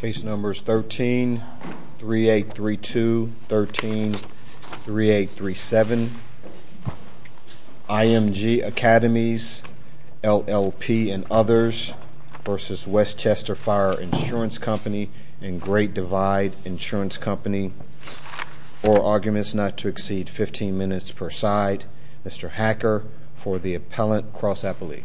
13, 3832, 13, 3837, IMG Academies, LLP and others v. Westchester Fire Insurance Company and Great Divide Insurance Company. Four arguments not to exceed 15 minutes per side. Mr. Hacker for the appellant, Cross Appellee.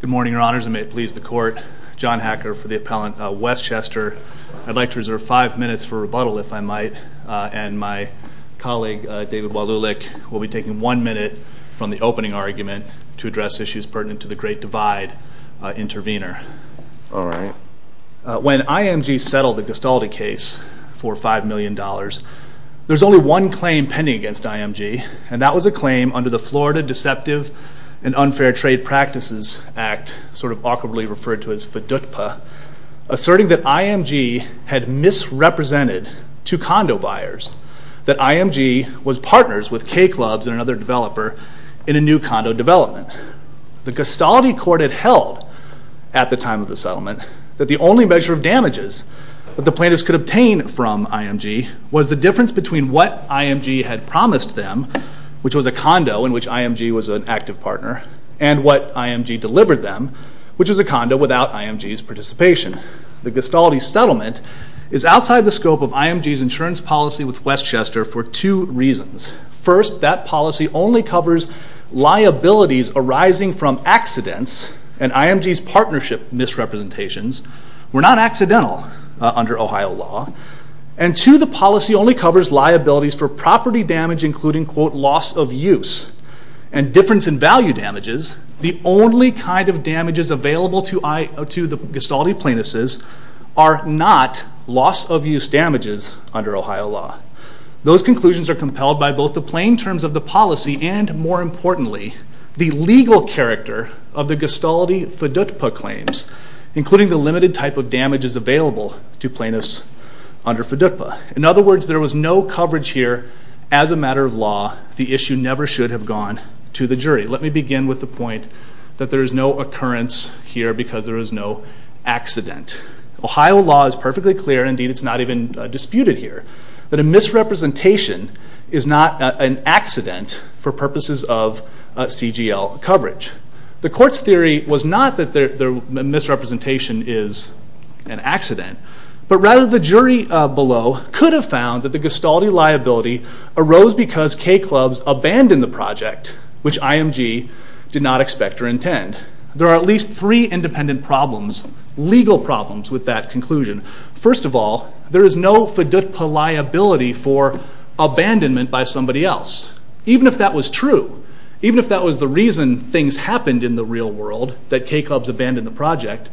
Good morning, your honors, and may it please the court, John Hacker for the appellant, Westchester. I'd like to reserve five minutes for rebuttal, if I might, and my colleague, David Walulick, will be taking one minute from the opening argument to address issues pertinent to the Great Divide intervenor. All right. When IMG settled the Gestalt case for five million dollars, there's only one claim pending against IMG, and that was a claim under the Florida Deceptive and Unfair Trade Practices Act, sort of awkwardly referred to as FDUPA, asserting that IMG had misrepresented two condo buyers, that IMG was partners with K-Clubs and another developer in a new condo development. The Gestalt court had held, at the time of the settlement, that the only measure of damages that the plaintiffs could obtain from IMG was the difference between what IMG had promised them, which was a condo in which IMG was an active partner, and what IMG delivered them, which was a condo without IMG's participation. The Gestalt settlement is outside the scope of IMG's insurance policy with Westchester for two reasons. First, that policy only covers liabilities arising from accidents, and IMG's partnership misrepresentations, were not accidental under Ohio law, and two, the policy only covers liabilities for property damage including, quote, loss of use and difference in value damages. The only kind of damages available to the Gestalt plaintiffs are not loss of use damages under Ohio law. Those conclusions are compelled by both the plain terms of the policy and, more importantly, the legal character of the Gestalt FDUHPA claims, including the limited type of damages available to plaintiffs under FDUHPA. In other words, there was no coverage here, as a matter of law, the issue never should have gone to the jury. Let me begin with the point that there is no occurrence here because there is no accident. Ohio law is perfectly clear, and indeed it's not even disputed here, that a misrepresentation is not an accident for purposes of CGL coverage. The court's theory was not that the misrepresentation is an accident, but rather the jury below could have found that the Gestalt liability arose because K-Clubs abandoned the project, which IMG did not expect or intend. There are at least three independent problems, legal problems, with that conclusion. First of all, there is no FDUHPA liability for abandonment by somebody else. Even if that was true, even if that was the reason things happened in the real world, that K-Clubs abandoned the project,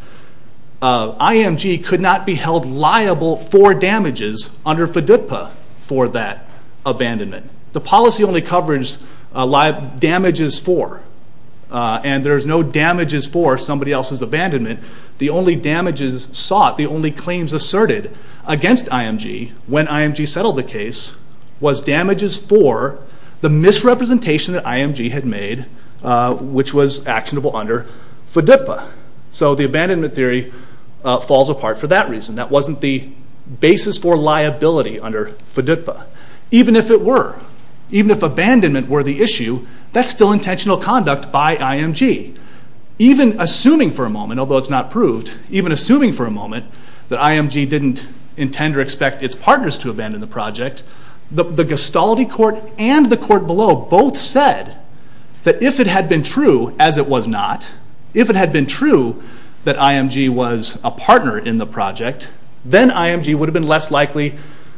IMG could not be held liable for damages under FDUHPA for that abandonment. The policy only covers damages for, and there's no damages for somebody else's abandonment. The only damages sought, the only claims asserted against IMG when IMG settled the case was damages for the misrepresentation that IMG had made, which was actionable under FDUHPA. So the abandonment theory falls apart for that reason. That wasn't the basis for liability under FDUHPA. Even if it were, even if abandonment were the issue, that's still intentional conduct by IMG. Even assuming for a moment, although it's not proved, even assuming for a moment that IMG didn't intend or expect its partners to abandon the project, the Gestalt court and the court below both said that if it had been true, as it was not, if it had been true that then IMG would have been less likely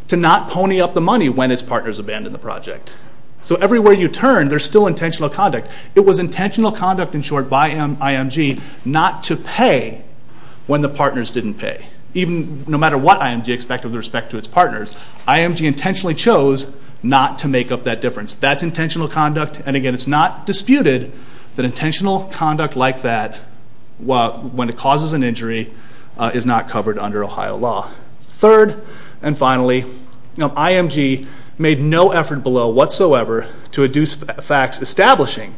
to not pony up the money when its partners abandoned the project. So everywhere you turn, there's still intentional conduct. It was intentional conduct, in short, by IMG not to pay when the partners didn't pay. No matter what IMG expected with respect to its partners, IMG intentionally chose not to make up that difference. That's intentional conduct, and again, it's not disputed that intentional conduct like that, when it causes an injury, is not covered under Ohio law. Third, and finally, IMG made no effort below whatsoever to induce facts establishing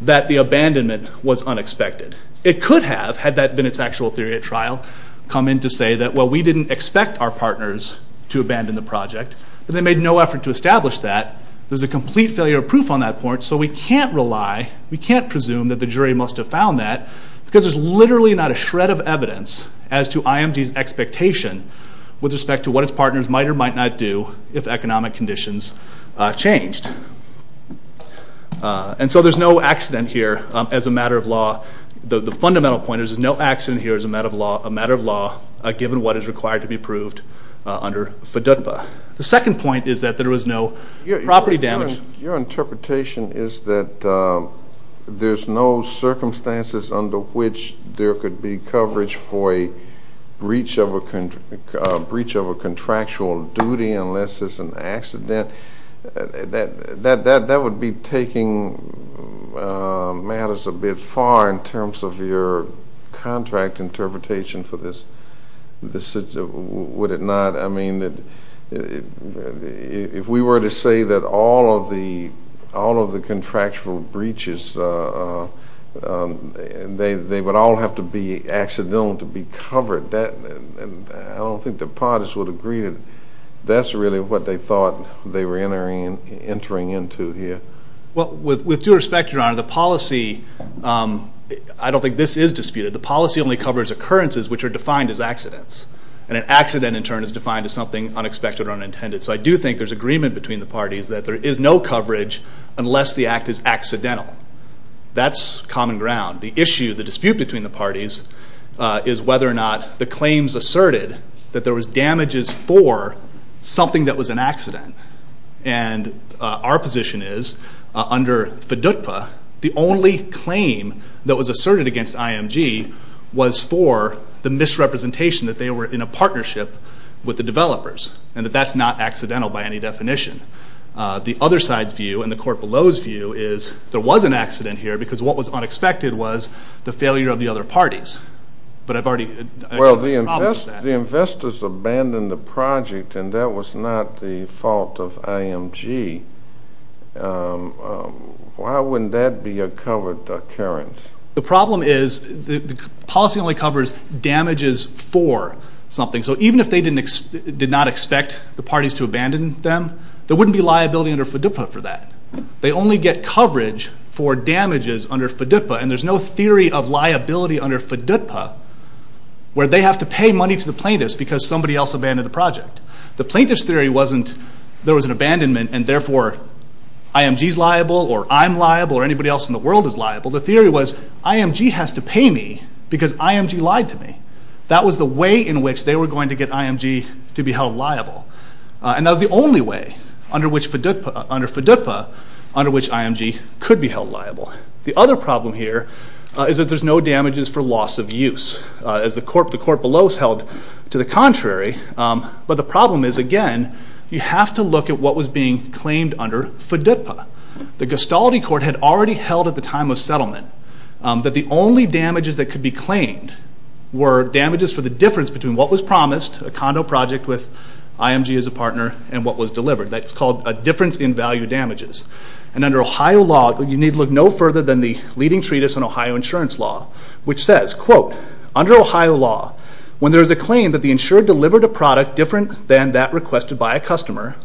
that the abandonment was unexpected. It could have, had that been its actual theory at trial, come in to say that, well, we didn't expect our partners to abandon the project, and they made no effort to establish that. There's a complete failure of proof on that point, so we can't rely, we can't presume that the jury must have found that, because there's literally not a shred of evidence as to IMG's expectation with respect to what its partners might or might not do if economic conditions changed. And so there's no accident here as a matter of law. The fundamental point is there's no accident here as a matter of law, given what is required to be proved under FDUDPA. The second point is that there was no property damage. Your interpretation is that there's no circumstances under which there could be coverage for a breach of a contractual duty unless it's an accident. That would be taking matters a bit far in terms of your contract interpretation for this decision, would it not? I mean, if we were to say that all of the contractual breaches, they would all have to be accidental to be covered, I don't think the parties would agree that that's really what they thought they were entering into here. Well, with due respect, Your Honor, the policy, I don't think this is disputed, the policy only covers occurrences which are defined as accidents, and an accident in turn is defined as something unexpected or unintended, so I do think there's agreement between the parties that there is no coverage unless the act is accidental. That's common ground. The issue, the dispute between the parties is whether or not the claims asserted that there was damages for something that was an accident, and our position is, under FDUDPA, the only claim that was asserted against IMG was for the misrepresentation that they were in a partnership with the developers, and that that's not accidental by any definition. The other side's view, and the court below's view, is there was an accident here because what was unexpected was the failure of the other parties, but I've already, I have a problem with that. Well, the investors abandoned the project, and that was not the fault of IMG. Why wouldn't that be a covered occurrence? The problem is the policy only covers damages for something, so even if they did not expect the parties to abandon them, there wouldn't be liability under FDUDPA for that. They only get coverage for damages under FDUDPA, and there's no theory of liability under FDUDPA where they have to pay money to the plaintiffs because somebody else abandoned the project. The plaintiff's theory wasn't there was an abandonment, and therefore IMG's liable, or I'm liable, or anybody else in the world is liable. The theory was IMG has to pay me because IMG lied to me. That was the way in which they were going to get IMG to be held liable, and that was the only way under FDUDPA under which IMG could be held liable. The other problem here is that there's no damages for loss of use, as the court below has held to the contrary, but the problem is, again, you have to look at what was being claimed under FDUDPA. The Gustavity Court had already held at the time of settlement that the only damages that could be claimed were damages for the difference between what was promised, a condo project with IMG as a partner, and what was delivered. That's called a difference in value damages, and under Ohio law, you need look no further than the leading treatise on Ohio insurance law, which says, quote, under Ohio law, when there is a claim that the insured delivered a product different than that requested by a customer,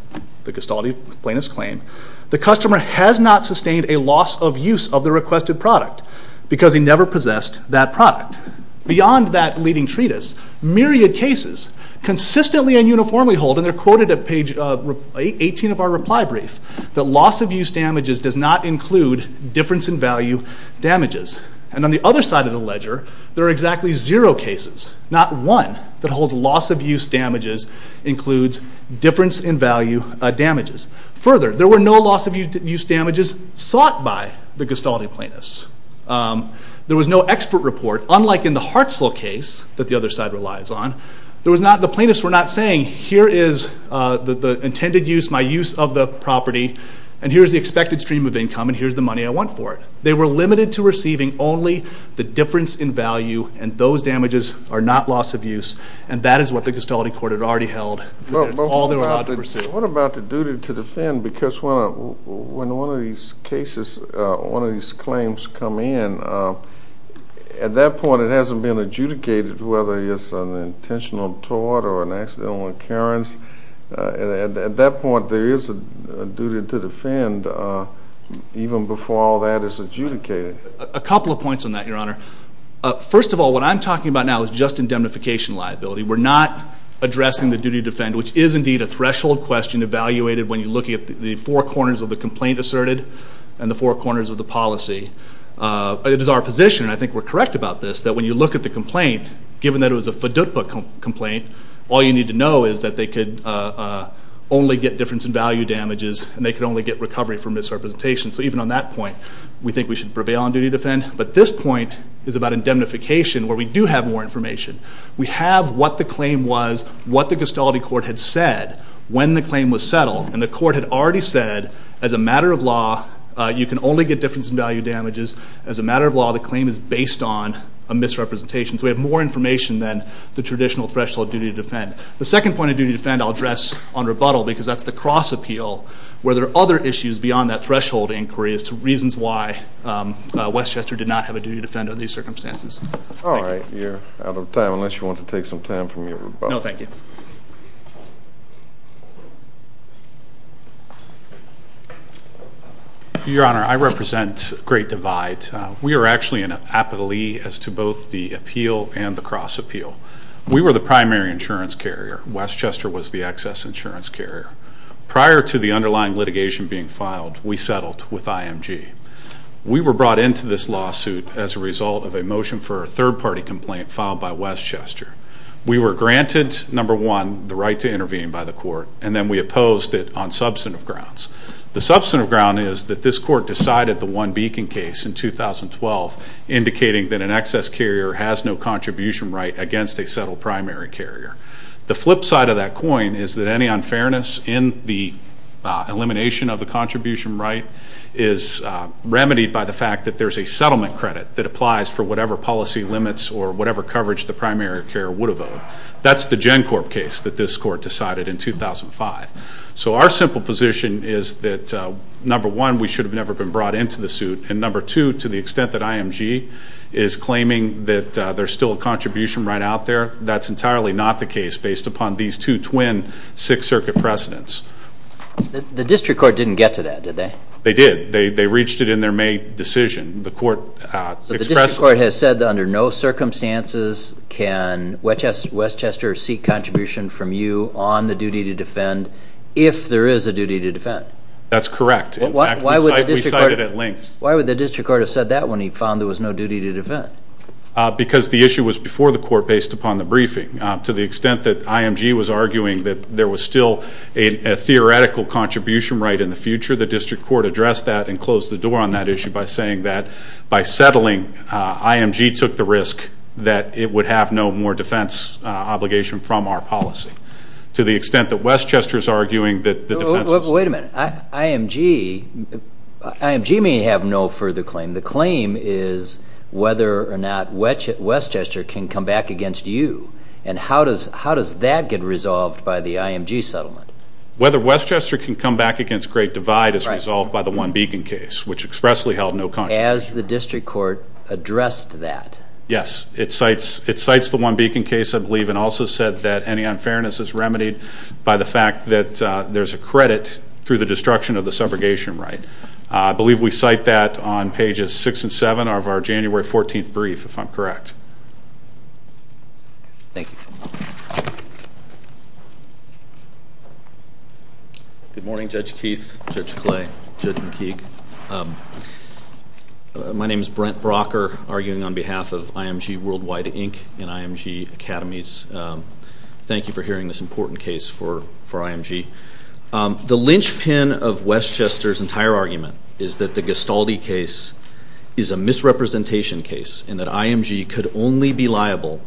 the Gustavity plaintiff's claim, the customer has not sustained a loss of use of the requested product because he never possessed that product. Beyond that leading treatise, myriad cases consistently and uniformly hold, and they're quoted at page 18 of our reply brief, that loss of use damages does not include difference in value damages. And on the other side of the ledger, there are exactly zero cases, not one, that holds loss of use damages includes difference in value damages. Further, there were no loss of use damages sought by the Gustavity plaintiffs. There was no expert report, unlike in the Hartzell case that the other side relies on. The plaintiffs were not saying, here is the intended use, my use of the property, and here is the expected stream of income, and here is the money I want for it. They were limited to receiving only the difference in value, and those damages are not loss of use, and that is what the Gustavity court had already held, and that's all they were allowed to pursue. What about the duty to defend? Because when one of these cases, one of these claims come in, at that point it hasn't been adjudicated whether it's an intentional tort or an accidental occurrence. At that point, there is a duty to defend even before all that is adjudicated. A couple of points on that, Your Honor. First of all, what I'm talking about now is just indemnification liability. We're not addressing the duty to defend, which is indeed a threshold question evaluated when you're looking at the four corners of the complaint asserted and the four corners of the policy. It is our position, and I think we're correct about this, that when you look at the complaint, given that it was a FDUPA complaint, all you need to know is that they could only get difference in value damages, and they could only get recovery for misrepresentation. So even on that point, we think we should prevail on duty to defend. But this point is about indemnification where we do have more information. We have what the claim was, what the Gustavity court had said when the claim was settled, and the court had already said as a matter of law, you can only get difference in value damages. As a matter of law, the claim is based on a misrepresentation. So we have more information than the traditional threshold duty to defend. The second point of duty to defend I'll address on rebuttal, because that's the cross-appeal where there are other issues beyond that threshold inquiry as to reasons why Westchester did not have a duty to defend under these circumstances. Thank you. All right. You're out of time, unless you want to take some time from your rebuttal. No, thank you. Your Honor, I represent Great Divide. We are actually in an apathy as to both the appeal and the cross-appeal. We were the primary insurance carrier. Westchester was the excess insurance carrier. Prior to the underlying litigation being filed, we settled with IMG. We were brought into this lawsuit as a result of a motion for a third-party complaint filed by Westchester. We were granted, number one, the right to intervene by the court, and then we opposed it on substantive grounds. The substantive ground is that this court decided the One Beacon case in 2012, indicating that an excess carrier has no contribution right against a settled primary carrier. The flip side of that coin is that any unfairness in the elimination of the contribution right is remedied by the fact that there's a settlement credit that applies for whatever policy limits or whatever coverage the primary carrier would have owed. That's the GenCorp case that this court decided in 2005. So our simple position is that, number one, we should have never been brought into the suit, and number two, to the extent that IMG is claiming that there's still a contribution right out there, that's entirely not the case based upon these two twin Sixth Circuit precedents. The district court didn't get to that, did they? They did. They reached it in their May decision. The court expressed... So the district court has said that under no circumstances can Westchester seek contribution from you on the duty to defend if there is a duty to defend. That's correct. In fact, we cited it at length. Why would the district court have said that when he found there was no duty to defend? Because the issue was before the court based upon the briefing. To the extent that IMG was arguing that there was still a theoretical contribution right in the future, the district court addressed that and closed the door on that issue by saying that by settling, IMG took the risk that it would have no more defense obligation from our policy. To the extent that Westchester is arguing that the defense... Wait a minute. IMG may have no further claim. The claim is whether or not Westchester can come back against you, and how does that get resolved by the IMG settlement? Whether Westchester can come back against Great Divide is resolved by the One Beacon case, which expressly held no contradiction. Has the district court addressed that? Yes. It cites the One Beacon case, I believe, and also said that any unfairness is remedied by the fact that there's a credit through the destruction of the subrogation right. I believe we cite that on pages six and seven of our January 14th brief, if I'm correct. Thank you. Good morning, Judge Keith, Judge Clay, Judge McKeague. My name is Brent Brocker, arguing on behalf of IMG Worldwide Inc. and IMG Academies. Thank you for hearing this important case for IMG. The linchpin of Westchester's entire argument is that the Gastaldi case is a misrepresentation case and that IMG could only be liable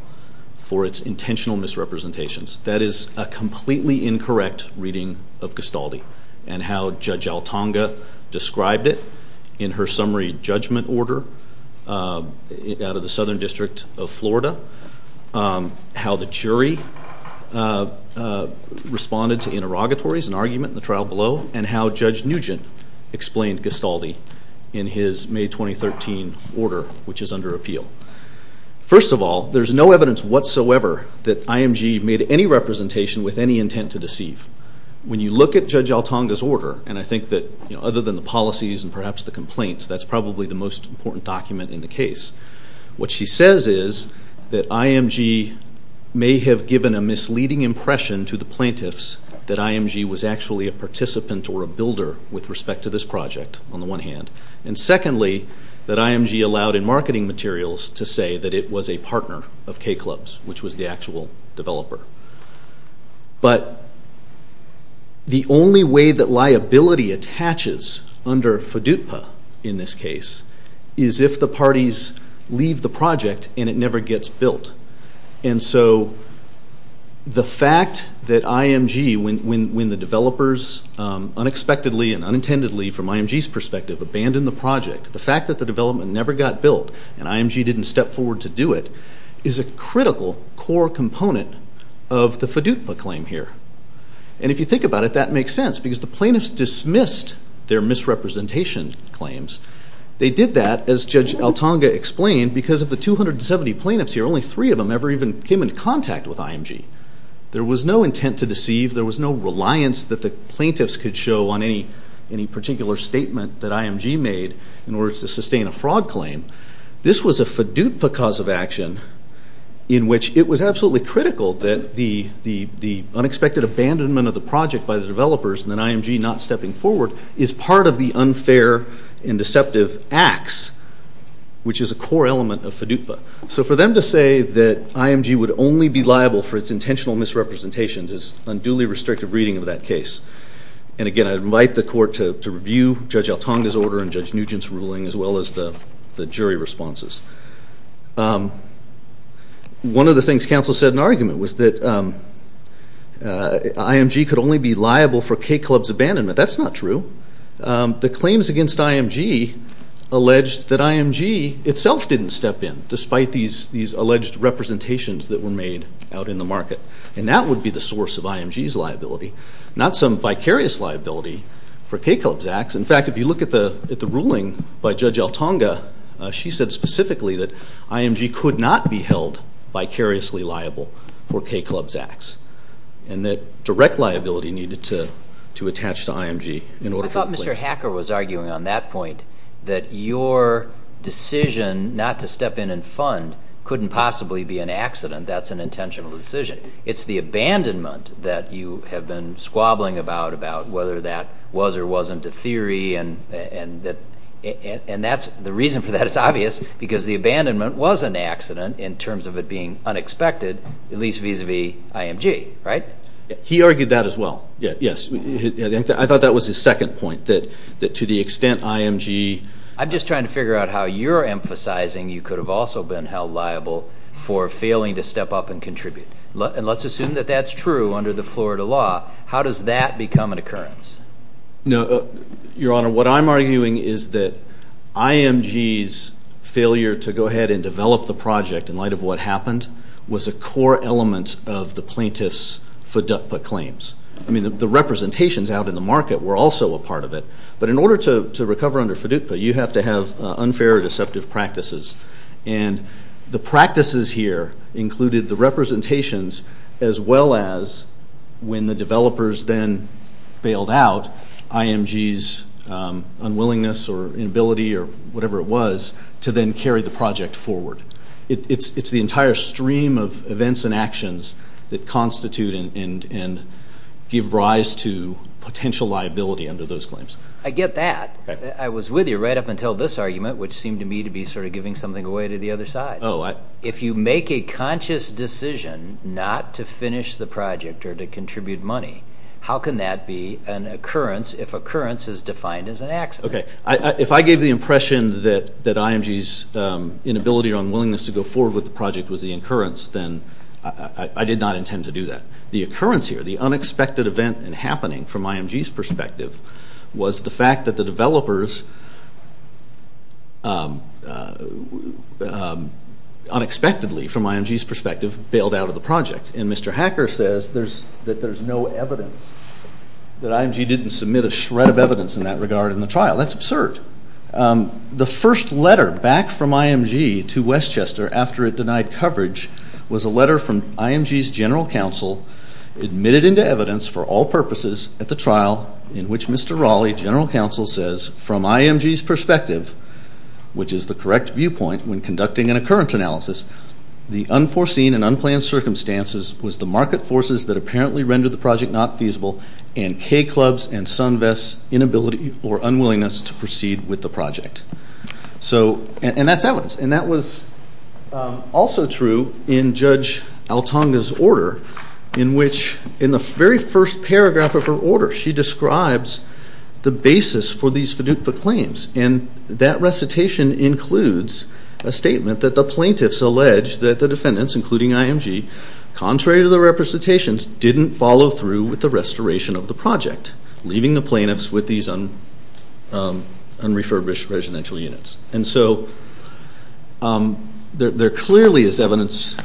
for its intentional misrepresentations. That is a completely incorrect reading of Gastaldi and how Judge Altonga described it in her summary judgment order out of the Southern District of Florida, how the jury responded to interrogatories and argument in the trial below, and how Judge Nugent explained Gastaldi in his May 2013 order, which is under appeal. First of all, there's no evidence whatsoever that IMG made any representation with any intent to deceive. When you look at Judge Altonga's order, and I think that other than the policies and perhaps the complaints, that's probably the most important document in the case. What she says is that IMG may have given a misleading impression to the plaintiffs that IMG was actually a participant or a builder with respect to this project, on the one hand, and secondly, that IMG allowed in marketing materials to say that it was a partner of K-Clubs, which was the actual developer. But the only way that liability attaches under FDUPA in this case is if the parties leave the project and it never gets built. And so the fact that IMG, when the developers unexpectedly and unintendedly, from IMG's perspective, abandoned the project, the fact that the development never got built and IMG didn't step forward to do it, is a critical core component of the FDUPA claim here. And if you think about it, that makes sense because the plaintiffs dismissed their misrepresentation claims. They did that, as Judge Altonga explained, because of the 270 plaintiffs here, only three of them ever even came in contact with IMG. There was no intent to deceive. There was no reliance that the plaintiffs could show on any particular statement that IMG made in order to sustain a fraud claim. This was a FDUPA cause of action in which it was absolutely critical that the unexpected abandonment of the project by the developers and then IMG not stepping forward is part of the unfair and deceptive acts, which is a core element of FDUPA. So for them to say that IMG would only be liable for its intentional misrepresentations is unduly restrictive reading of that case. And again, I invite the court to review Judge Altonga's order and Judge Nugent's ruling as well as the jury responses. One of the things counsel said in argument was that IMG could only be liable for K-Club's abandonment. That's not true. The claims against IMG alleged that IMG itself didn't step in, despite these alleged representations that were made out in the market. And that would be the source of IMG's liability, not some vicarious liability for K-Club's acts. In fact, if you look at the ruling by Judge Altonga, she said specifically that IMG could not be held vicariously liable for K-Club's acts and that direct liability needed to attach to IMG in order for a claim to be made. I thought Mr. Hacker was arguing on that point that your decision not to step in and fund couldn't possibly be an accident. That's an intentional decision. It's the abandonment that you have been squabbling about, about whether that was or wasn't a theory and the reason for that is obvious, because the abandonment was an accident in terms of it being unexpected, at least vis-a-vis IMG, right? He argued that as well. Yes. I thought that was his second point, that to the extent IMG... I'm just trying to figure out how you're emphasizing you could have also been held liable for failing to step up and contribute. Let's assume that that's true under the Florida law. How does that become an occurrence? No, Your Honor, what I'm arguing is that IMG's failure to go ahead and develop the project in light of what happened was a core element of the plaintiff's FDUPA claims. The representations out in the market were also a part of it, but in order to recover under FDUPA, you have to have unfair or deceptive practices. And the practices here included the representations as well as when the developers then bailed out IMG's unwillingness or inability or whatever it was to then carry the project forward. It's the entire stream of events and actions that constitute and give rise to potential liability under those claims. I get that. Okay. I was with you right up until this argument, which seemed to me to be sort of giving something away to the other side. Oh, I... If you make a conscious decision not to finish the project or to contribute money, how can that be an occurrence if occurrence is defined as an accident? Okay. If I gave the impression that IMG's inability or unwillingness to go forward with the project was the occurrence, then I did not intend to do that. The occurrence here, the unexpected event and happening from IMG's perspective was the developers unexpectedly, from IMG's perspective, bailed out of the project. And Mr. Hacker says that there's no evidence, that IMG didn't submit a shred of evidence in that regard in the trial. That's absurd. The first letter back from IMG to Westchester after it denied coverage was a letter from IMG's general counsel admitted into evidence for all purposes at the trial in which Mr. Hacker says, from IMG's perspective, which is the correct viewpoint when conducting an occurrence analysis, the unforeseen and unplanned circumstances was the market forces that apparently rendered the project not feasible and K-Clubs and SunVest's inability or unwillingness to proceed with the project. So... And that's evidence. And that was also true in Judge Altonga's order in which in the very first paragraph of her order, she describes the basis for these FDUPA claims. And that recitation includes a statement that the plaintiffs alleged that the defendants, including IMG, contrary to the representations, didn't follow through with the restoration of the project, leaving the plaintiffs with these unrefurbished residential units. And so there clearly is evidence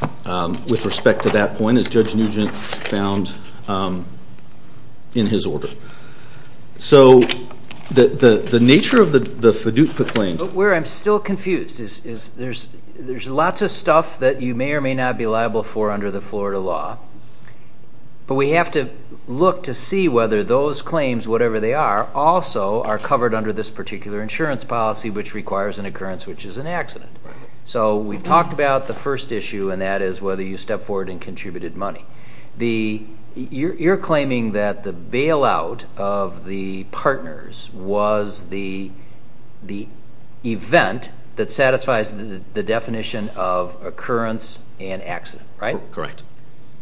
with respect to that point, as Judge Nugent found in his order. So the nature of the FDUPA claims... But where I'm still confused is there's lots of stuff that you may or may not be liable for under the Florida law, but we have to look to see whether those claims, whatever they are, also are covered under this particular insurance policy, which requires an occurrence which is an accident. So we've talked about the first issue, and that is whether you step forward and contributed money. You're claiming that the bailout of the partners was the event that satisfies the definition of occurrence and accident, right? Correct.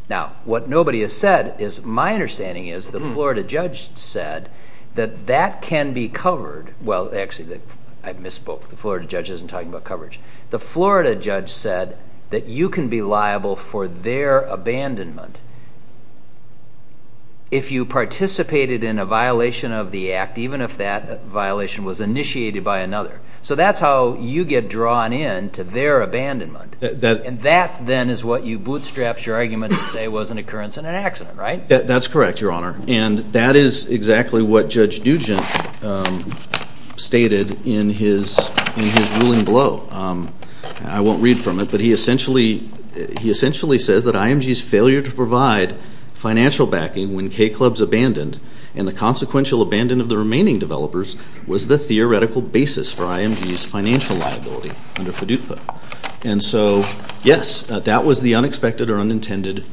Now, what nobody has said is my understanding is the Florida judge said that that can be covered... Well, actually, I misspoke. The Florida judge isn't talking about coverage. The Florida judge said that you can be liable for their abandonment if you participated in a violation of the act, even if that violation was initiated by another. So that's how you get drawn in to their abandonment. And that, then, is what you bootstrapped your argument to say was an occurrence and an accident, right? That's correct, Your Honor. And that is exactly what Judge Dugent stated in his ruling below. I won't read from it, but he essentially says that IMG's failure to provide financial backing when K-Clubs abandoned and the consequential abandonment of the remaining developers was the theoretical basis for IMG's financial liability under FDUPA. And so, yes, that was the unexpected or unintended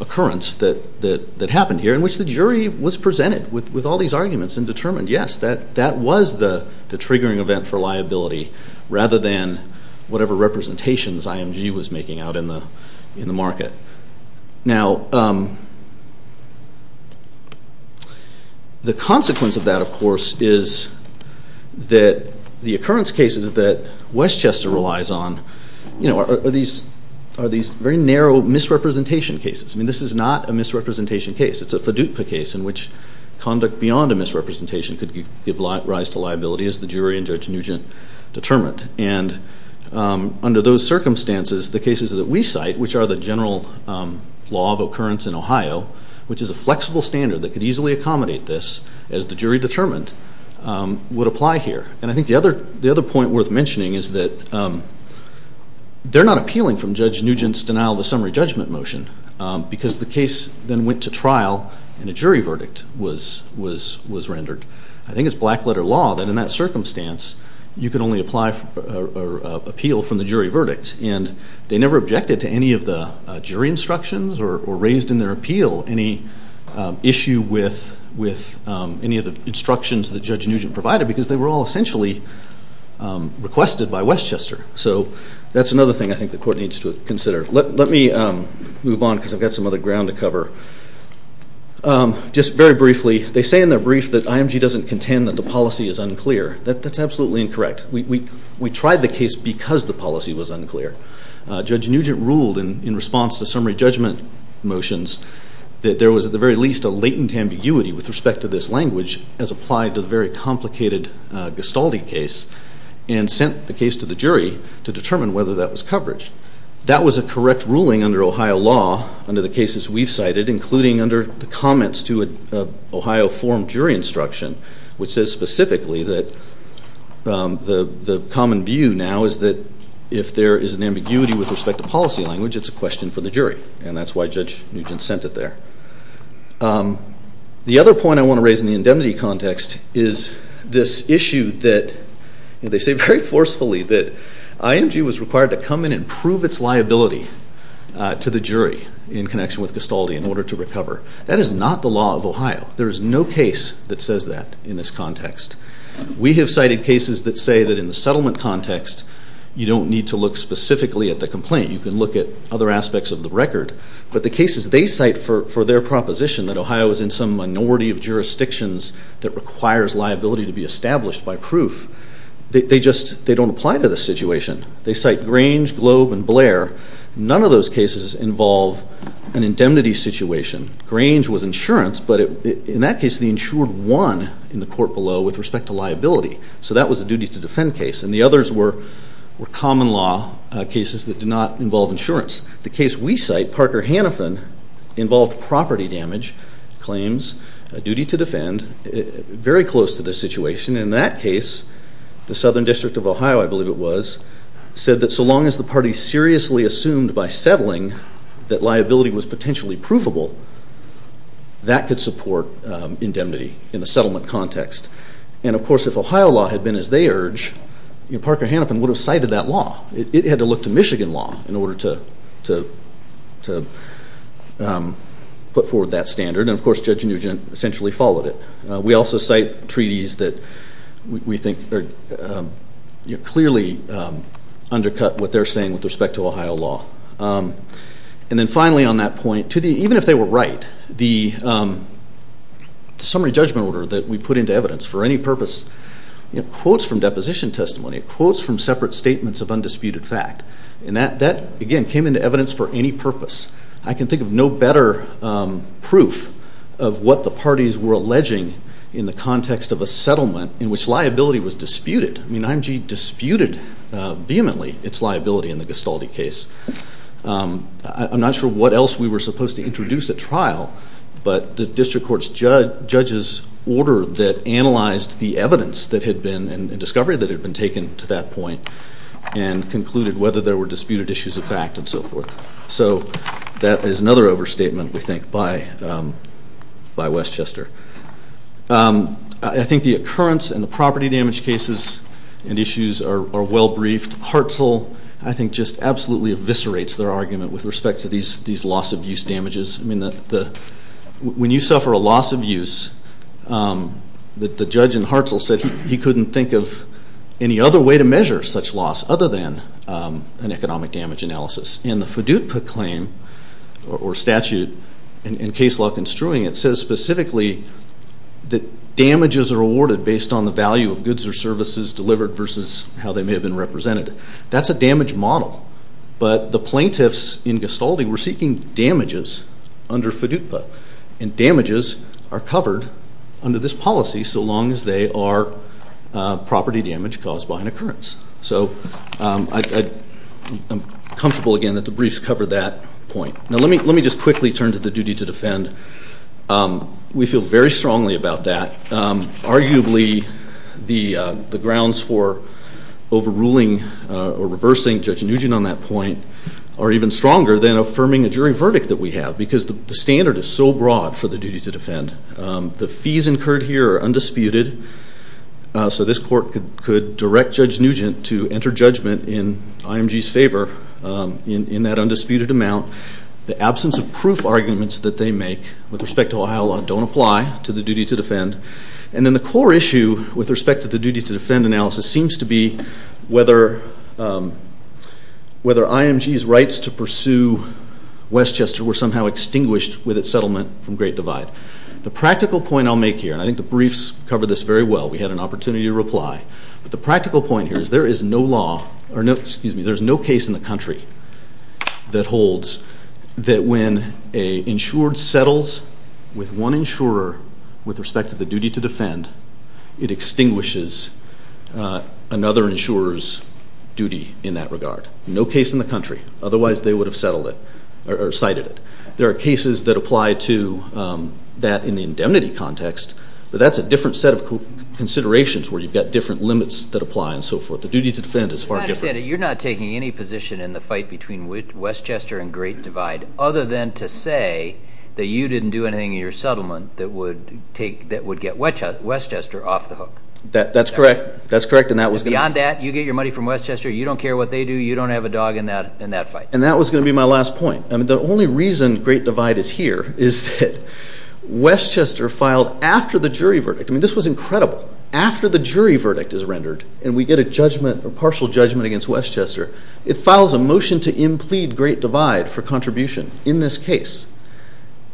occurrence that happened here in which the jury was presented with all these arguments and determined, yes, that was the triggering event for liability rather than whatever representations IMG was making out in the market. Now, the consequence of that, of course, is that the occurrence cases that Westchester relies on are these very narrow misrepresentation cases. This is not a misrepresentation case. It's a FDUPA case in which conduct beyond a misrepresentation could give rise to liability as the jury and Judge Nugent determined. And under those circumstances, the cases that we cite, which are the general law of occurrence in Ohio, which is a flexible standard that could easily accommodate this as the jury determined, would apply here. And I think the other point worth mentioning is that they're not appealing from Judge Nugent's denial of the summary judgment motion because the case then went to trial and a jury verdict was rendered. I think it's black letter law that in that circumstance, you could only appeal from the jury verdict. And they never objected to any of the jury instructions or raised in their appeal any issue with any of the instructions that Judge Nugent provided because they were all essentially requested by Westchester. So that's another thing I think the court needs to consider. Let me move on because I've got some other ground to cover. Just very briefly, they say in their brief that IMG doesn't contend that the policy is unclear. That's absolutely incorrect. We tried the case because the policy was unclear. Judge Nugent ruled in response to summary judgment motions that there was at the very least a latent ambiguity with respect to this language as applied to the very complicated Gastaldi case and sent the case to the jury to determine whether that was coverage. That was a correct ruling under Ohio law under the cases we've cited, including under the comments to an Ohio forum jury instruction, which says specifically that the common view now is that if there is an ambiguity with respect to policy language, it's a question for the jury. And that's why Judge Nugent sent it there. The other point I want to raise in the indemnity context is this issue that they say very forcefully that IMG was required to come in and prove its liability to the jury in connection with Gastaldi in order to recover. That is not the law of Ohio. There is no case that says that in this context. We have cited cases that say that in the settlement context, you don't need to look specifically at the complaint. You can look at other aspects of the record. But the cases they cite for their proposition that Ohio is in some minority of jurisdictions that requires liability to be established by proof, they don't apply to the situation. They cite Grange, Globe, and Blair. None of those cases involve an indemnity situation. Grange was insurance, but in that case, the insured won in the court below with respect to liability. So that was a duty to defend case. And the others were common law cases that did not involve insurance. The case we cite, Parker-Hannafin, involved property damage claims, a duty to defend, very close to this situation. In that case, the Southern District of Ohio, I believe it was, said that so long as the that could support indemnity in the settlement context. And of course, if Ohio law had been as they urge, Parker-Hannafin would have cited that law. It had to look to Michigan law in order to put forward that standard. And of course, Judge Nugent essentially followed it. We also cite treaties that we think clearly undercut what they're saying with respect to Ohio law. And then finally, on that point, even if they were right, the summary judgment order that we put into evidence for any purpose, quotes from deposition testimony, quotes from separate statements of undisputed fact, and that, again, came into evidence for any purpose. I can think of no better proof of what the parties were alleging in the context of a settlement in which liability was disputed. IMG disputed vehemently its liability in the Gestalt case. I'm not sure what else we were supposed to introduce at trial, but the district court's judge's order that analyzed the evidence that had been in discovery that had been taken to that point and concluded whether there were disputed issues of fact and so forth. So that is another overstatement, we think, by Westchester. I think the occurrence and the property damage cases and issues are well-briefed. Hartzell, I think, just absolutely eviscerates their argument with respect to these loss of use damages. When you suffer a loss of use, the judge in Hartzell said he couldn't think of any other way to measure such loss other than an economic damage analysis. And the FDUPA claim or statute in Case Lock and Strewing, it says specifically that damages are awarded based on the value of goods or services delivered versus how they may have been represented. That's a damage model. But the plaintiffs in Gestalt were seeking damages under FDUPA. And damages are covered under this policy so long as they are property damage caused by an occurrence. So I'm comfortable, again, that the briefs cover that point. Now, let me just quickly turn to the duty to defend. We feel very strongly about that. Arguably, the grounds for overruling or reversing Judge Nugent on that point are even stronger than affirming a jury verdict that we have because the standard is so broad for the duty to defend. The fees incurred here are undisputed, so this court could direct Judge Nugent to enter judgment in IMG's favor in that undisputed amount. The absence of proof arguments that they make with respect to Ohio law don't apply to the duty to defend. And then the core issue with respect to the duty to defend analysis seems to be whether IMG's rights to pursue Westchester were somehow extinguished with its settlement from Great Britain. The practical point I'll make here, and I think the briefs cover this very well, we had an opportunity to reply, but the practical point here is there is no case in the country that holds that when an insured settles with one insurer with respect to the duty to defend, it extinguishes another insurer's duty in that regard. No case in the country. Otherwise, they would have settled it or cited it. There are cases that apply to that in the indemnity context, but that's a different set of considerations where you've got different limits that apply and so forth. The duty to defend is far different. You're not taking any position in the fight between Westchester and Great Divide other than to say that you didn't do anything in your settlement that would get Westchester off the hook. That's correct. That's correct. Beyond that, you get your money from Westchester. You don't care what they do. You don't have a dog in that fight. And that was going to be my last point. The only reason Great Divide is here is that Westchester filed after the jury verdict. This was incredible. After the jury verdict is rendered and we get a partial judgment against Westchester, it files a motion to implead Great Divide for contribution in this case.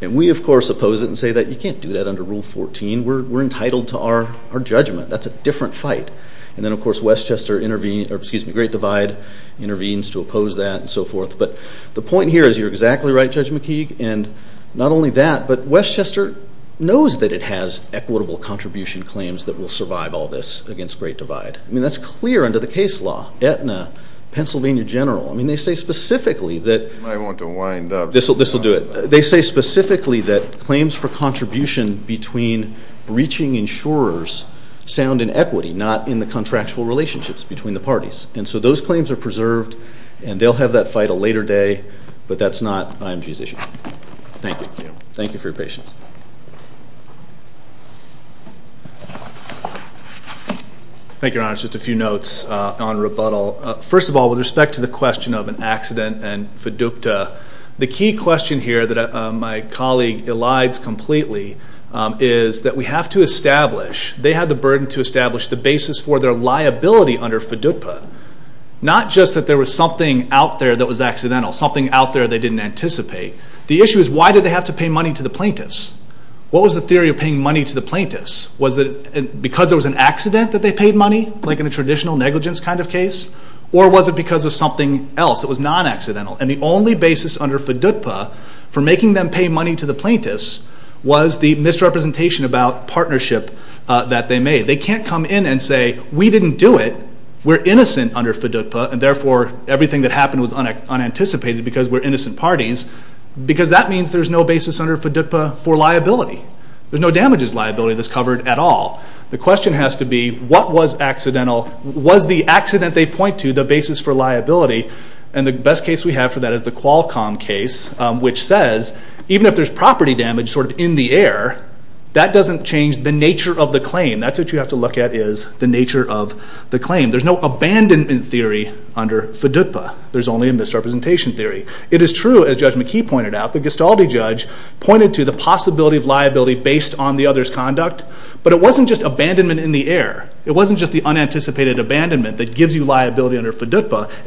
And we, of course, oppose it and say that you can't do that under Rule 14. We're entitled to our judgment. That's a different fight. And then, of course, Great Divide intervenes to oppose that and so forth. But the point here is you're exactly right, Judge McKeague, and not only that, but Westchester knows that it has equitable contribution claims that will survive all this against Great Divide. I mean, that's clear under the case law. Aetna, Pennsylvania General. I mean, they say specifically that. I want to wind up. This will do it. They say specifically that claims for contribution between breaching insurers sound in equity, not in the contractual relationships between the parties. And so those claims are preserved, and they'll have that fight a later day, but that's not IMG's issue. Thank you. Thank you for your patience. Thank you, Your Honor. Just a few notes on rebuttal. First of all, with respect to the question of an accident and FDUKTA, the key question here that my colleague elides completely is that we have to establish, they have the burden to establish the basis for their liability under FDUKTA, not just that there was something out there that was accidental, something out there they didn't anticipate. The issue is why did they have to pay money to the plaintiffs? What was the theory of paying money to the plaintiffs? Was it because there was an accident that they paid money, like in a traditional negligence kind of case? Or was it because of something else that was non-accidental? And the only basis under FDUKTA for making them pay money to the plaintiffs was the misrepresentation about partnership that they made. They can't come in and say, we didn't do it. We're innocent under FDUKTA, and therefore, everything that happened was unanticipated because we're innocent parties, because that means there's no basis under FDUKTA for liability. There's no damages liability that's covered at all. The question has to be, what was accidental? Was the accident they point to the basis for liability? And the best case we have for that is the Qualcomm case, which says, even if there's property damage sort of in the air, that doesn't change the nature of the claim. That's what you have to look at is the nature of the claim. There's no abandonment theory under FDUKTA. There's only a misrepresentation theory. It is true, as Judge McKee pointed out, the Gestalti judge pointed to the possibility of liability based on the other's conduct, but it wasn't just abandonment in the air. It wasn't just the unanticipated abandonment that gives you liability under FDUKTA. It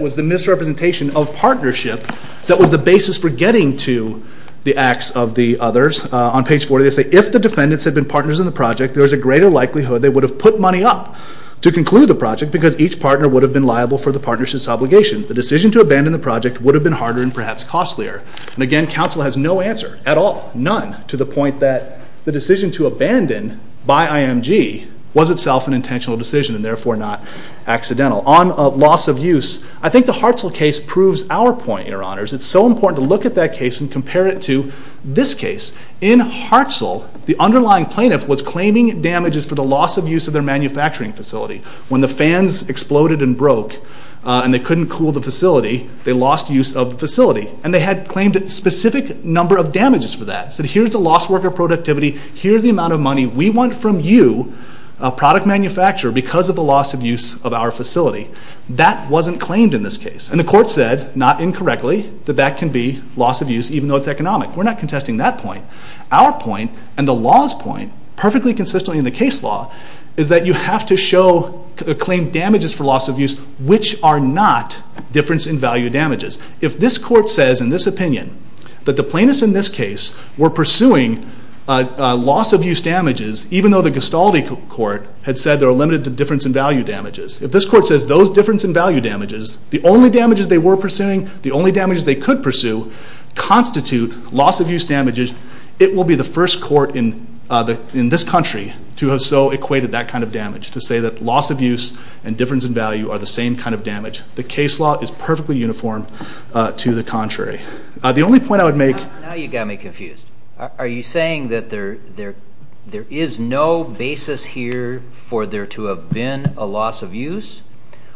was the misrepresentation of partnership that was the basis for getting to the acts of the others. On page 40 they say, if the defendants had been partners in the project, there was a greater likelihood they would have put money up to conclude the project because each partner would have been liable for the partnership's obligation. The decision to abandon the project would have been harder and perhaps costlier. And again, counsel has no answer at all, none, to the point that the decision to abandon by IMG was itself an intentional decision and therefore not accidental. On loss of use, I think the Hartzell case proves our point, your honors. It's so important to look at that case and compare it to this case. In Hartzell, the underlying plaintiff was claiming damages for the loss of use of their manufacturing facility. When the fans exploded and broke and they couldn't cool the facility, they lost use of the facility. And they had claimed a specific number of damages for that. Said here's the loss worker productivity, here's the amount of money we want from you, a product manufacturer, because of the loss of use of our facility. That wasn't claimed in this case. And the court said, not incorrectly, that that can be loss of use even though it's economic. We're not contesting that point. Our point and the law's point, perfectly consistent in the case law, is that you have to show a claim damages for loss of use which are not difference in value damages. If this court says in this opinion that the plaintiffs in this case were pursuing loss of use damages, even though the Gestalt court had said they were limited to difference in value damages. If this court says those difference in value damages, the only damages they were pursuing, the only damages they could pursue, constitute loss of use damages. It will be the first court in this country to have so equated that kind of damage. To say that loss of use and difference in value are the same kind of damage. The case law is perfectly uniform to the contrary. The only point I would make. Now you got me confused. Are you saying that there is no basis here for there to have been a loss of use?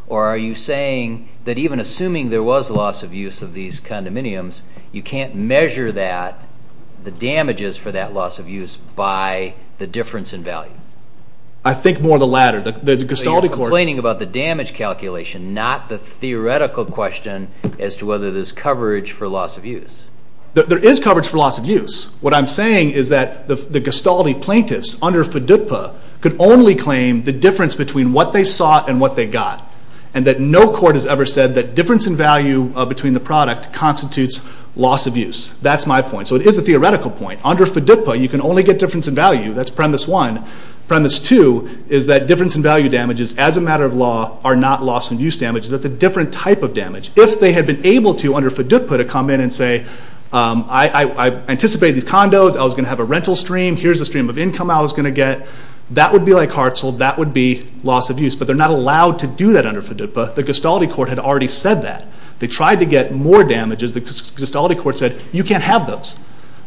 Or are you saying that even assuming there was loss of use of these condominiums, you can't measure that, the damages for that loss of use by the difference in value? I think more the latter. The Gestalt court. You're complaining about the damage calculation, not the theoretical question as to whether there's coverage for loss of use. There is coverage for loss of use. What I'm saying is that the Gestalt plaintiffs, under FDIPPA, could only claim the difference between what they sought and what they got. And that no court has ever said that difference in value between the product constitutes loss of use. That's my point. So it is a theoretical point. Under FDIPPA, you can only get difference in value. That's premise one. Premise two is that difference in value damages, as a matter of law, are not loss of use damages. It's a different type of damage. If they had been able to, under FDIPPA, to come in and say, I anticipated these condos. I was going to have a rental stream. Here's the stream of income I was going to get. That would be like Hartzell. That would be loss of use. But they're not allowed to do that under FDIPPA. The Gestalt court had already said that. They tried to get more damages. The Gestalt court said, you can't have those.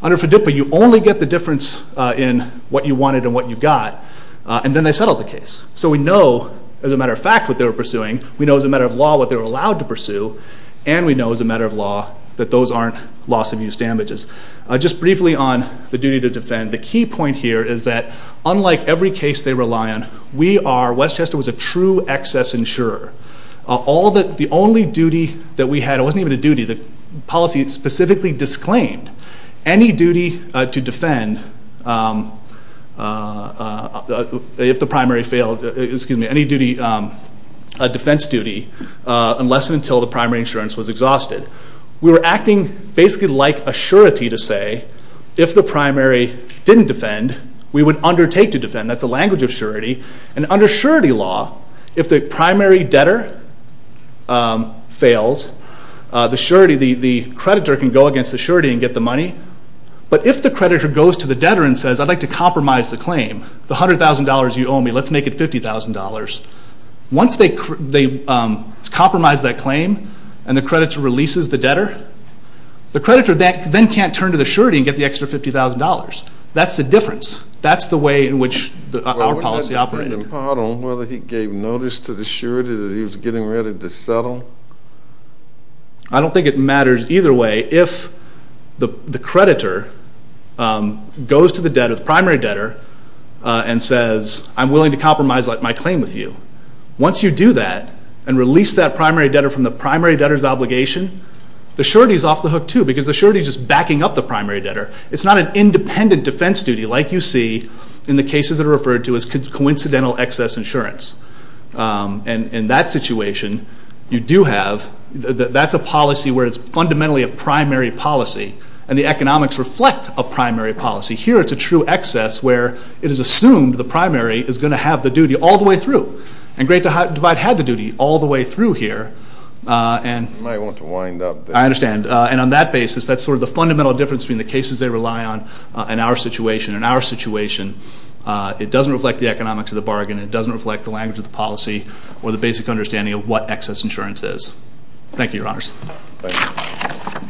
Under FDIPPA, you only get the difference in what you wanted and what you got. And then they settled the case. So we know, as a matter of fact, what they were pursuing. We know, as a matter of law, what they were allowed to pursue. And we know, as a matter of law, that those aren't loss of use damages. Just briefly on the duty to defend. The key point here is that, unlike every case they rely on, we are, Westchester was a true excess insurer. All the, the only duty that we had, it wasn't even a duty, the policy specifically disclaimed, any duty to defend, if the primary failed, excuse me, any duty, a defense duty, unless and until the primary insurance was exhausted. We were acting basically like a surety to say, if the primary didn't defend, we would undertake to defend, that's a language of surety. And under surety law, if the primary debtor fails, the surety, the, the creditor can go against the surety and get the money. But if the creditor goes to the debtor and says, I'd like to compromise the claim, the $100,000 you owe me, let's make it $50,000. Once they, they compromise that claim, and the creditor releases the debtor, the creditor then, then can't turn to the surety and get the extra $50,000. That's the difference. That's the way in which our policy operated. Well, wouldn't that depend on whether he gave notice to the surety that he was getting ready to settle? I don't think it matters either way if the creditor goes to the debtor, the primary debtor, and says, I'm willing to compromise my claim with you. Once you do that, and release that primary debtor from the primary debtor's obligation, the surety's off the hook too, because the surety's just backing up the primary debtor. It's not an independent defense duty like you see in the cases that are referred to as coincidental excess insurance. And in that situation, you do have, that's a policy where it's fundamentally a primary policy, and the economics reflect a primary policy. Here, it's a true excess where it is assumed the primary is going to have the duty all the way through. And Great Divide had the duty all the way through here, and- You might want to wind up there. I understand. And on that basis, that's sort of the fundamental difference between the cases they rely on in our situation. In our situation, it doesn't reflect the economics of the bargain. It doesn't reflect the language of the policy, or the basic understanding of what excess insurance is. Thank you, your honors. Thank you.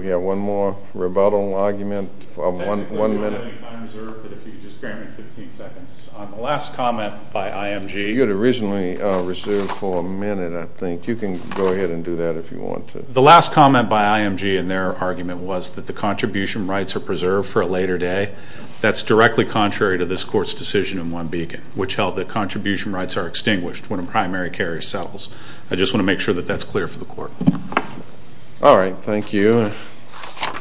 We have one more rebuttal argument of one minute. Thank you for your time reserved, but if you could just grant me 15 seconds on the last comment by IMG. You had originally reserved for a minute, I think. You can go ahead and do that if you want to. The last comment by IMG in their argument was that the contribution rights are preserved for a later day. That's directly contrary to this court's decision in One Beacon, which held that contribution rights are extinguished when a primary carrier settles. I just want to make sure that that's clear for the court. All right, thank you.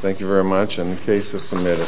Thank you very much, and the case is submitted.